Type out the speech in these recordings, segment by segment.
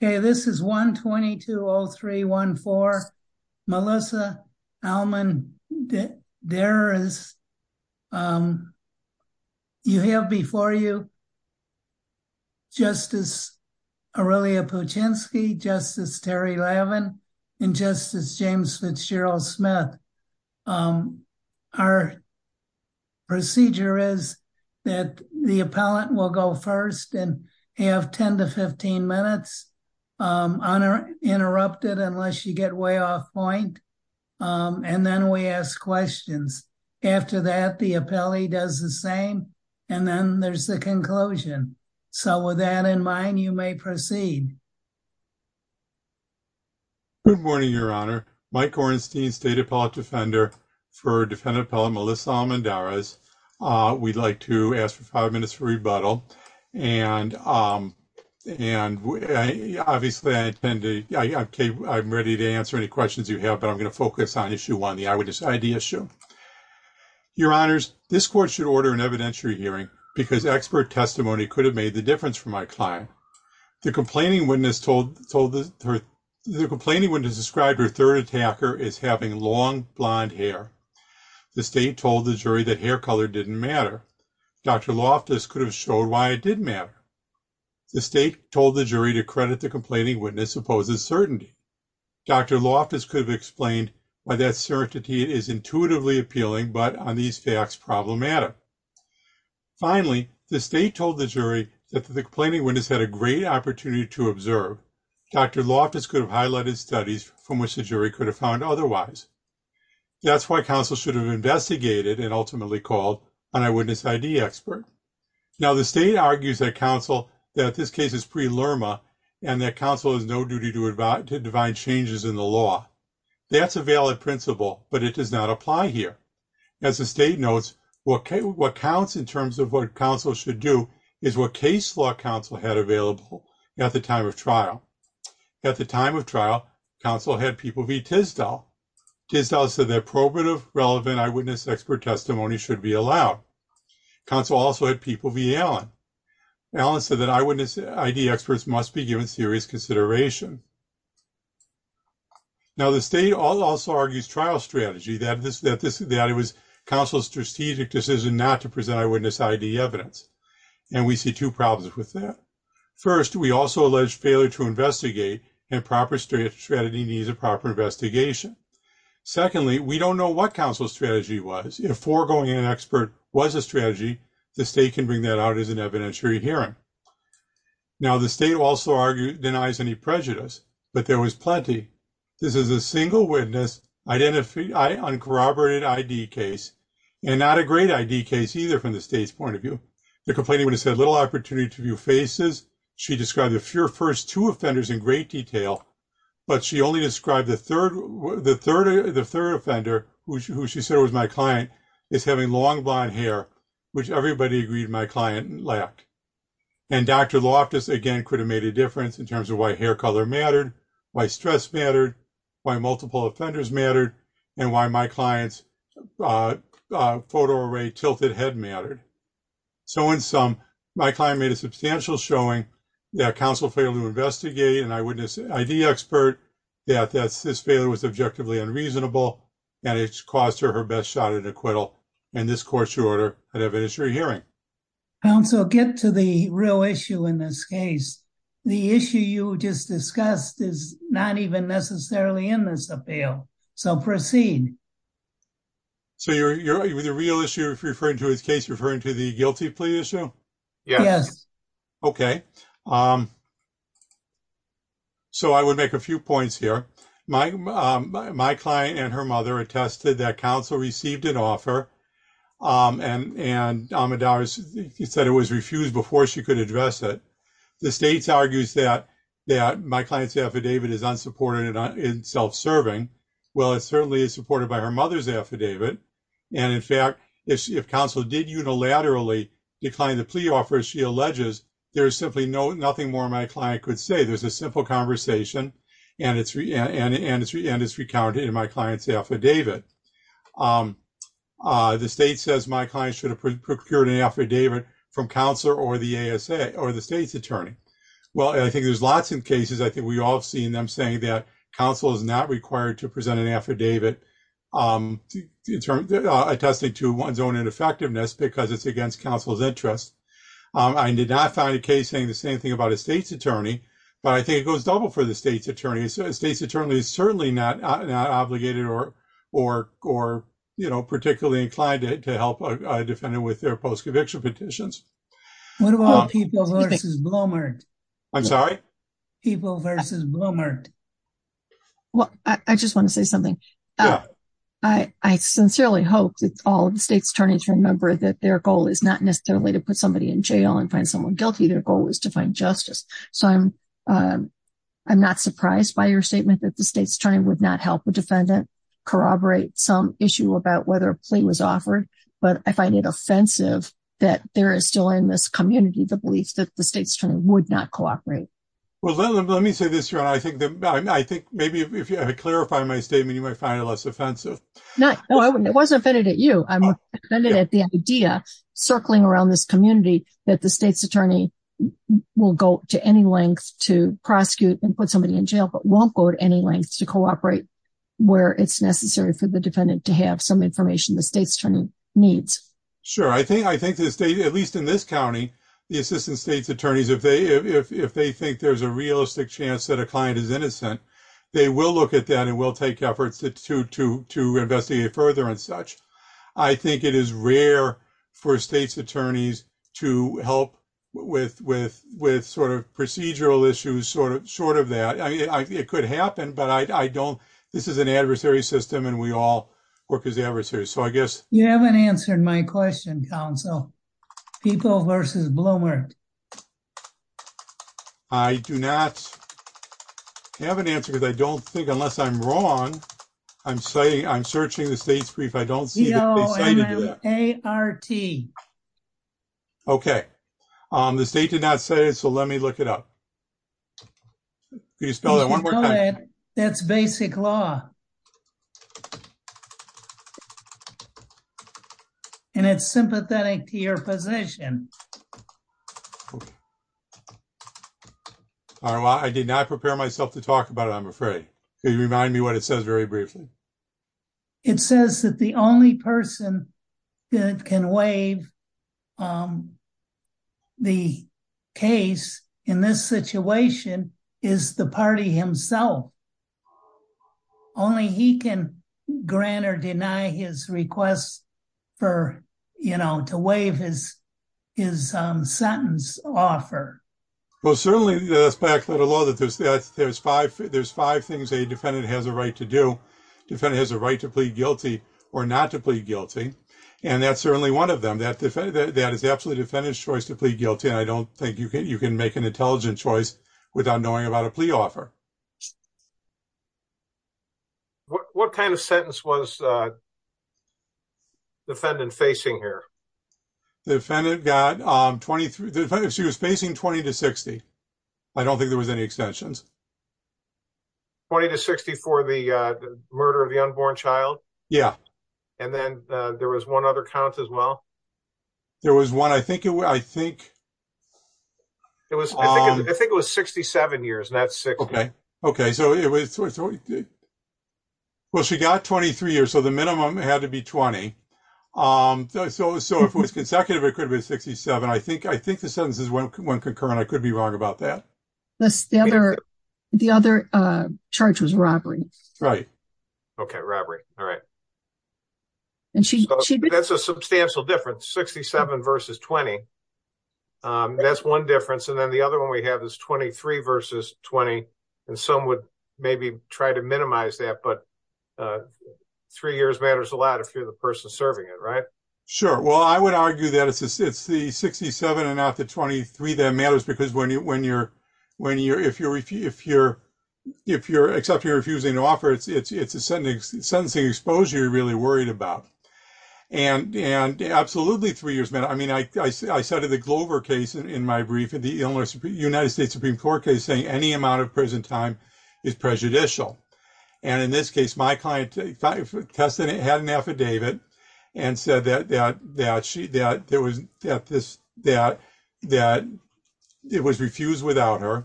Hey, this is 120-203-14. Melissa Almendarez. You have before you Justice Aurelia Puchinsky, Justice Terry Lavin, and Justice James Fitzgerald Smith. Our procedure is that the appellant will go first and have 10 to 15 minutes interrupted unless you get way off point, and then we ask questions. After that, the appellee does the same, and then there's the conclusion. So with that in mind, you may proceed. Mike Ornstein Good morning, Your Honor. Mike Ornstein, State Appellate Defender for Defendant Appellant Melissa Almendarez. We'd like to ask for five minutes for rebuttal, and obviously I'm ready to answer any questions you have, but I'm going to focus on issue one, the eyewitness ID issue. Your Honors, this court should order an evidentiary hearing because expert testimony could have made the difference for my client. The complaining witness described her third attacker as having long blonde hair. The state told the jury that hair color didn't matter. Dr. Loftus could have showed why it didn't matter. The state told the jury to credit the complaining witness supposes certainty. Dr. Loftus could have explained why that certainty is intuitively appealing, but on these facts, problems matter. Finally, the state told the jury that the complaining witness had a great opportunity to observe. Dr. Loftus could have highlighted studies from which the jury could have found otherwise. That's why counsel should have investigated and ultimately called an eyewitness ID expert. Now the state argues that counsel, that this case is pre-LURMA and that counsel has no duty to divine changes in the law. That's a valid principle, but it does not apply here. As the state notes, what counts in terms of what counsel should do is what case counsel had available at the time of trial. At the time of trial, counsel had people be Tisdall. Tisdall said that probative relevant eyewitness expert testimony should be allowed. Counsel also had people be Allen. Allen said that eyewitness ID experts must be given serious consideration. Now the state also argues trial strategy that this, that this, that it was counsel's strategic decision not to present eyewitness ID evidence, and we see two problems with that. First, we also allege failure to investigate and proper strategy needs a proper investigation. Secondly, we don't know what counsel's strategy was. If foregoing an expert was a strategy, the state can bring that out as an evidentiary hearing. Now the state also argue denies any prejudice, but there was plenty. This is a single witness, uncorroborated ID case, and not a great ID case either from the state's point of view. The complainant would have said little opportunity to view faces. She described the first two offenders in great detail, but she only described the third offender, who she said was my client, is having long blonde hair, which everybody agreed my client lacked. And Dr. Loftus again could have made a difference in terms of why hair color mattered, why stress mattered, why multiple offenders mattered, and why my client's photo array tilted head mattered. So in sum, my client made a substantial showing that counsel failed to investigate an eyewitness ID expert, that this failure was objectively unreasonable, and it caused her her best shot at acquittal, and this court should order an evidentiary hearing. Counsel, get to the real issue in this case. The issue you just discussed is not even necessarily in this appeal, so proceed. So you're with the real issue referring to his case, referring to the guilty plea issue? Yes. Okay, so I would make a few points here. My client and her mother attested that counsel received an offer, and Amidar said it was refused before she could address it. The state argues that my client's affidavit is unsupported and self-serving. Well, it certainly is supported by her mother's affidavit, and in fact, if counsel did unilaterally decline the plea offer, as she alleges, there's simply nothing more my client could say. There's a simple conversation, and it's recounted in my client's affidavit. The state says my client should have procured an affidavit from counsel or the ASA or the state's attorney. Well, I think there's lots of cases. I think we've all seen them saying that counsel is not required to present an affidavit attesting to one's own ineffectiveness because it's against counsel's interest. I did not find a case saying the same thing about a state's attorney, but I think it goes double for the state's attorney. A state's attorney is certainly not obligated or particularly inclined to help a defendant with their post-conviction petitions. What about People v. Bloomert? I'm sorry? People v. Bloomert. Well, I just want to say something. I sincerely hope that all of the state's attorneys remember that their goal is not necessarily to put somebody in jail and find someone guilty. Their goal is to find justice. So, I'm not surprised by your statement that the but I find it offensive that there is still in this community the belief that the state's attorney would not cooperate. Well, let me say this. I think maybe if I clarify my statement, you might find it less offensive. No, I wasn't offended at you. I'm offended at the idea circling around this community that the state's attorney will go to any length to prosecute and put somebody in jail but won't go to any length to cooperate where it's necessary for the defendant to have some information the state's attorney needs. Sure. I think at least in this county, the assistant state's attorneys, if they think there's a realistic chance that a client is innocent, they will look at that and will take efforts to investigate further and such. I think it is rare for state's attorneys to help with procedural issues short of that. It could happen but I don't. This is an adversary system and we all work as adversaries. You haven't answered my question, counsel. People versus Bloomer. I do not have an answer because I don't think, unless I'm wrong, I'm searching the state's brief. I don't see that they cited that. ART. Okay. The state did not say it so let me look it up. Can you spell that one more time? That's basic law. And it's sympathetic to your position. All right. Well, I did not prepare myself to talk about it, I'm afraid. Could you remind me what it says very briefly? It says that the only person that can waive the case in this situation is the party himself. Only he can grant or deny his request for, you know, to waive his sentence offer. Well, certainly that's back to the law. There's five things a defendant has a right to do. Defendant has a right to plead guilty or not to plead guilty and that's certainly one of them. That is absolutely the defendant's choice to plead guilty and I don't think you can make an intelligent choice without knowing about a plea offer. What kind of sentence was the defendant facing here? The defendant was facing 20 to 60. I don't think there was any extensions. 20 to 60 for the murder of the unborn child? Yeah. And then there was one other count as well? There was one. I think it was 67 years. Well, she got 23 years so the minimum had to be 20. So, if it was consecutive, it could be 67. I think the sentence is one concurrent. I could be wrong about that. The other charge was robbery. Right. Okay. Robbery. All right. That's a substantial difference. 67 versus 20. That's one difference and then the other one we have is 23 versus 20 and some would maybe try to minimize that but three years matters a lot if the person is serving it, right? Sure. Well, I would argue that it's the 67 and not the 23 that matters because if you're refusing to offer it, it's a sentencing exposure you're really worried about and absolutely three years matters. I mean, I cited the Glover case in my brief in the United States Supreme Court case saying any amount of prison time is prejudicial and in this case, my client had an affidavit and said that it was refused without her,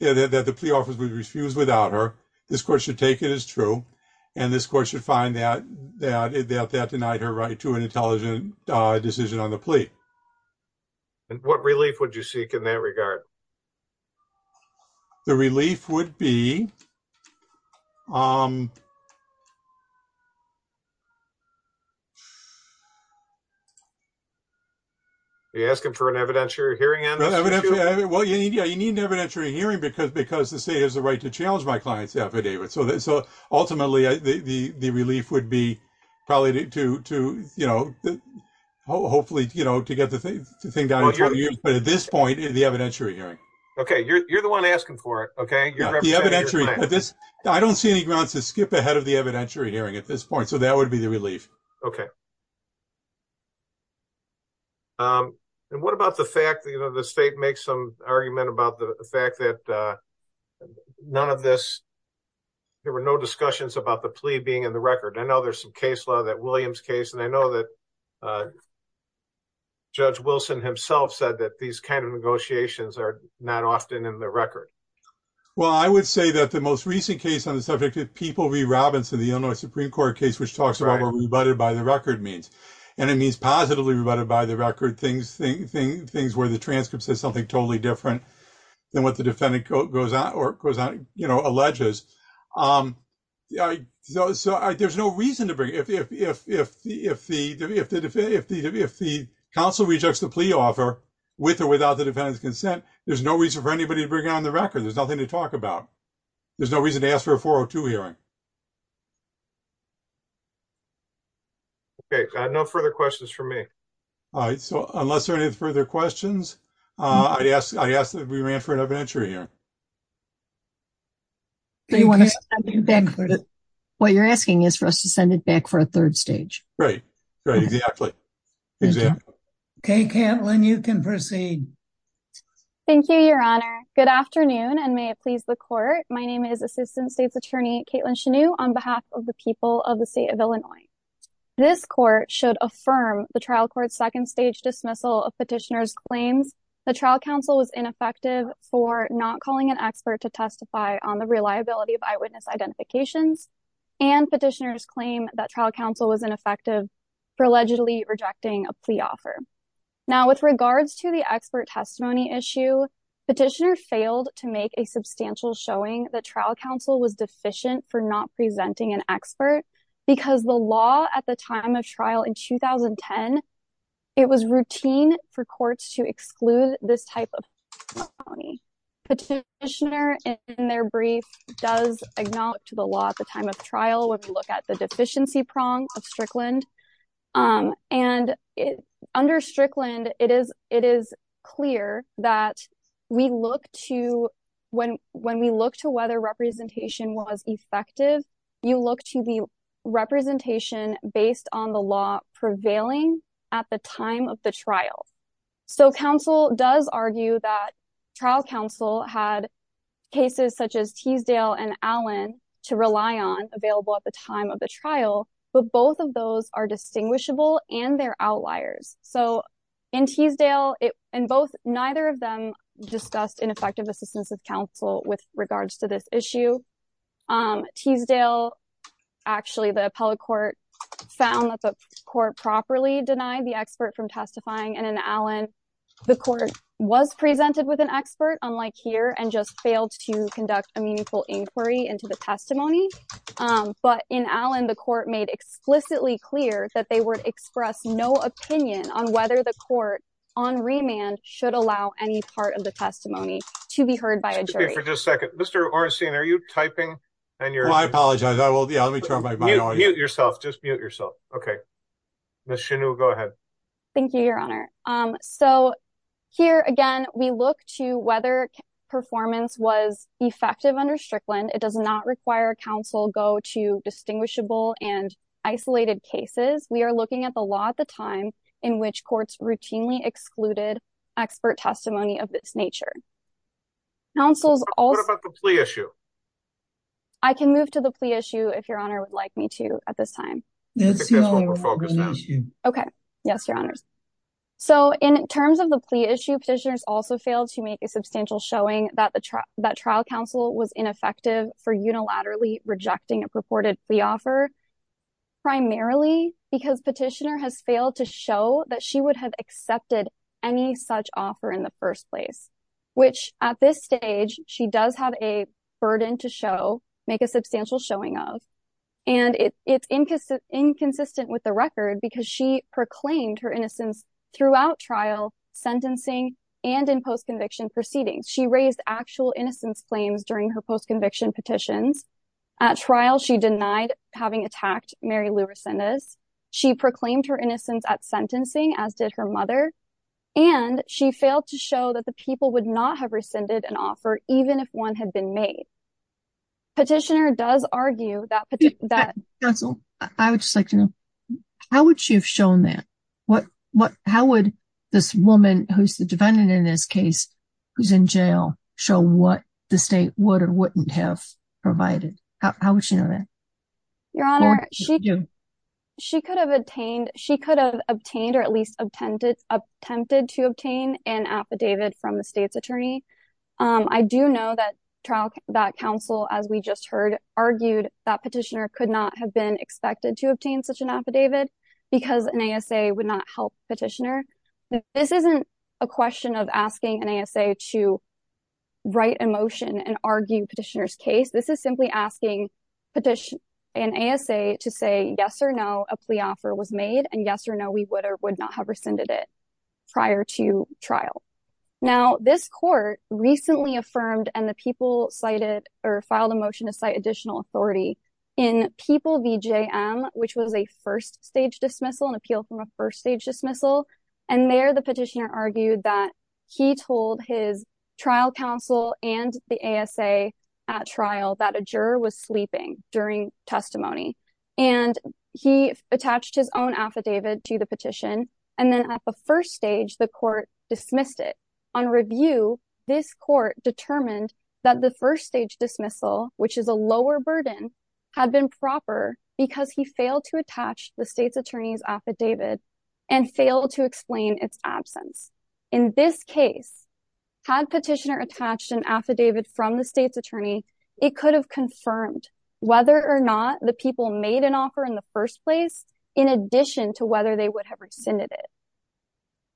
that the plea offer was refused without her. This court should take it as true and this court should find that that denied her right to an intelligent decision on the plea. And what relief would you seek in that regard? The relief would be... Are you asking for an evidentiary hearing? Well, yeah, you need an evidentiary hearing because the state has the right to challenge my client's affidavit. So ultimately, the relief would be probably to hopefully to get the thing down in 20 years but at this point, the evidentiary hearing. Okay, you're the one asking for it. Okay. I don't see any grounds to skip ahead of the evidentiary hearing at this point. So that would be the relief. Okay. And what about the fact that the state makes some argument about the fact that there were no discussions about the plea being in the record? I know there's some case and I know that Judge Wilson himself said that these kind of negotiations are not often in the record. Well, I would say that the most recent case on the subject of People v. Robbins in the Illinois Supreme Court case which talks about what rebutted by the record means. And it means positively rebutted by the record things where the transcript says something totally different than what the defendant alleges. So there's no reason to bring it. If the counsel rejects the plea offer with or without the defendant's consent, there's no reason for anybody to bring it on the record. There's nothing to talk about. There's no reason to ask for a 402 hearing. Okay. No further questions for me. All right. So unless there are any further questions, I'd ask that we ran for an open entry here. What you're asking is for us to send it back for a third stage. Right. Right. Exactly. Exactly. Okay, Caitlin, you can proceed. Thank you, Your Honor. Good afternoon and may it please the court. My name is Assistant State's Attorney Caitlin Chanew on behalf of the people of the state of Illinois. This court should affirm the trial court's second stage dismissal of petitioner's claims. The trial counsel was ineffective for not calling an expert to testify on the reliability of eyewitness identifications and petitioner's claim that trial counsel was ineffective for allegedly rejecting a plea offer. Now with regards to the expert testimony issue, petitioner failed to make a substantial showing that trial counsel was deficient for not presenting an expert because the law at the time of trial when we look at the deficiency prong of Strickland and under Strickland, it is clear that when we look to whether representation was effective, you look to the representation based on the law prevailing at the time of the trial. So counsel does argue that trial counsel had cases such as Teasdale and Allen to rely on available at the time of the trial, but both of those are distinguishable and they're outliers. So in Teasdale and both, neither of them discussed ineffective assistance of counsel with regards to this issue. Teasdale, actually the appellate court found that the court properly denied the expert from testifying and in Allen, the court was presented with an expert unlike here and just failed to conduct a meaningful inquiry into the testimony. But in Allen, the court made explicitly clear that they would express no opinion on whether the court on remand should allow any part of the testimony to be heard by a judge. So here again, we look to whether performance was effective under Strickland. It does not require counsel go to distinguishable and isolated cases. We are looking at the law at the time in which courts routinely excluded expert testimony of this nature. What about the plea issue? I can move to the plea issue if your honor would like me to at this time. Okay. Yes, your honors. So in terms of the plea issue, petitioners also failed to make a substantial showing that trial counsel was ineffective for unilaterally rejecting a purported plea offer primarily because petitioner has failed to show that she would have accepted any such offer in the first place, which at this stage, she does have a burden to show, make a substantial showing of, and it's inconsistent with the record because she proclaimed her innocence throughout trial, sentencing, and in post-conviction proceedings. She raised actual innocence claims during her post-conviction petitions. At trial, she denied having attacked Mary Lou Resendez. She proclaimed her innocence at sentencing, as did her mother, and she failed to show that the people would not have rescinded an offer even if one had been made. Petitioner does argue that... Counsel, I would just like to know, how would she have shown that? How would this woman who's the defendant in this case, who's in jail, show what the state would or wouldn't have provided? How would she know that? Your Honor, she could have obtained or at least attempted to obtain an affidavit from the state's attorney. I do know that trial counsel, as we just heard, argued that petitioner could not have been expected to obtain such an affidavit because an ASA would not help petitioner. This isn't a question of asking an ASA to write a motion and argue petitioner's case. This is simply asking an ASA to say, yes or no, a plea offer was made, and yes or no, we would or would not have rescinded it prior to trial. Now, this court recently affirmed and the people filed a motion to cite additional authority in People v. JM, which was a first-stage dismissal, an appeal from a first-stage dismissal, and there the petitioner argued that he told his trial counsel and the ASA at trial that a juror was sleeping during testimony, and he attached his own affidavit to the petition, and then at the first stage, the court dismissed it. On review, this court determined that the first-stage dismissal, which is a lower burden, had been proper because he failed to attach the and failed to explain its absence. In this case, had petitioner attached an affidavit from the state's attorney, it could have confirmed whether or not the people made an offer in the first place in addition to whether they would have rescinded it.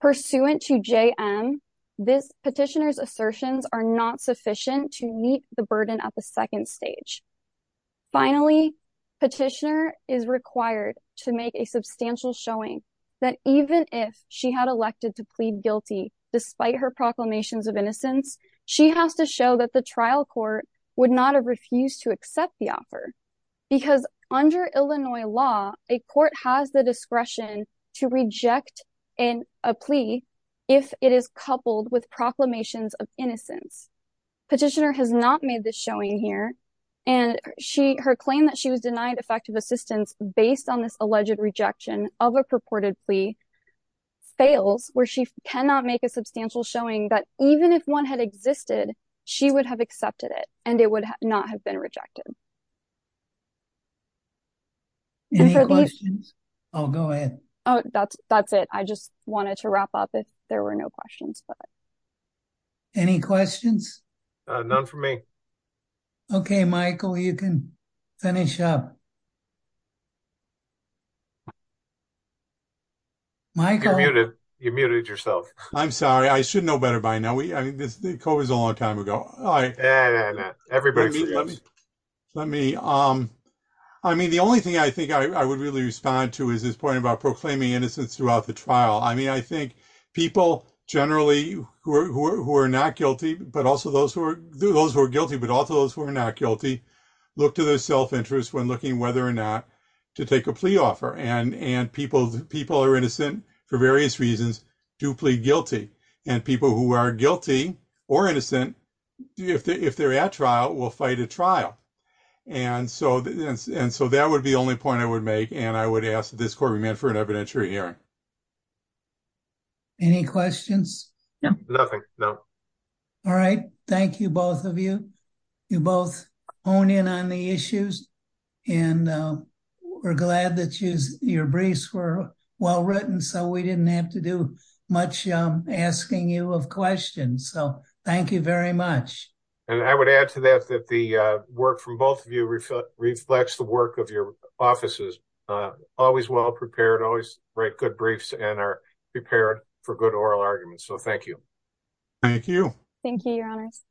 Pursuant to JM, this petitioner's assertions are not sufficient to meet the burden at the second stage. Finally, petitioner is required to make a substantial showing that even if she had elected to plead guilty despite her proclamations of innocence, she has to show that the trial court would not have refused to accept the offer because under Illinois law, a court has the discretion to reject a plea if it is coupled with proclamations of innocence. Petitioner has not made this showing here, and her claim that she was denied effective assistance based on this alleged rejection of a purported plea fails where she cannot make a substantial showing that even if one had existed, she would have accepted it and it would not have been rejected. Any questions? I'll go ahead. Oh, that's it. I just wanted to wrap up if there were no questions. Any questions? None for me. Okay, Michael, you can finish up. Michael? You're muted. You're muted yourself. I'm sorry. I should know better by now. I mean, this COVID is a long time ago. Let me, I mean, the only thing I think I would really respond to is this point about proclaiming innocence throughout the trial. I mean, I think people generally who are not guilty, but also those who are guilty, but also those who are not guilty, look to their self-interest when looking whether or not to take a plea offer. And people are innocent for various reasons, do plead guilty. And people who are guilty or innocent, if they're at trial, will fight a trial. And so that would be the only point I would make. And I would ask this for an evidentiary hearing. Any questions? No. Nothing. No. All right. Thank you, both of you. You both hone in on the issues and we're glad that your briefs were well-written. So we didn't have to do much asking you of questions. So thank you very much. And I would add to that, that the always write good briefs and are prepared for good oral arguments. So thank you. Thank you. Thank you, your honors.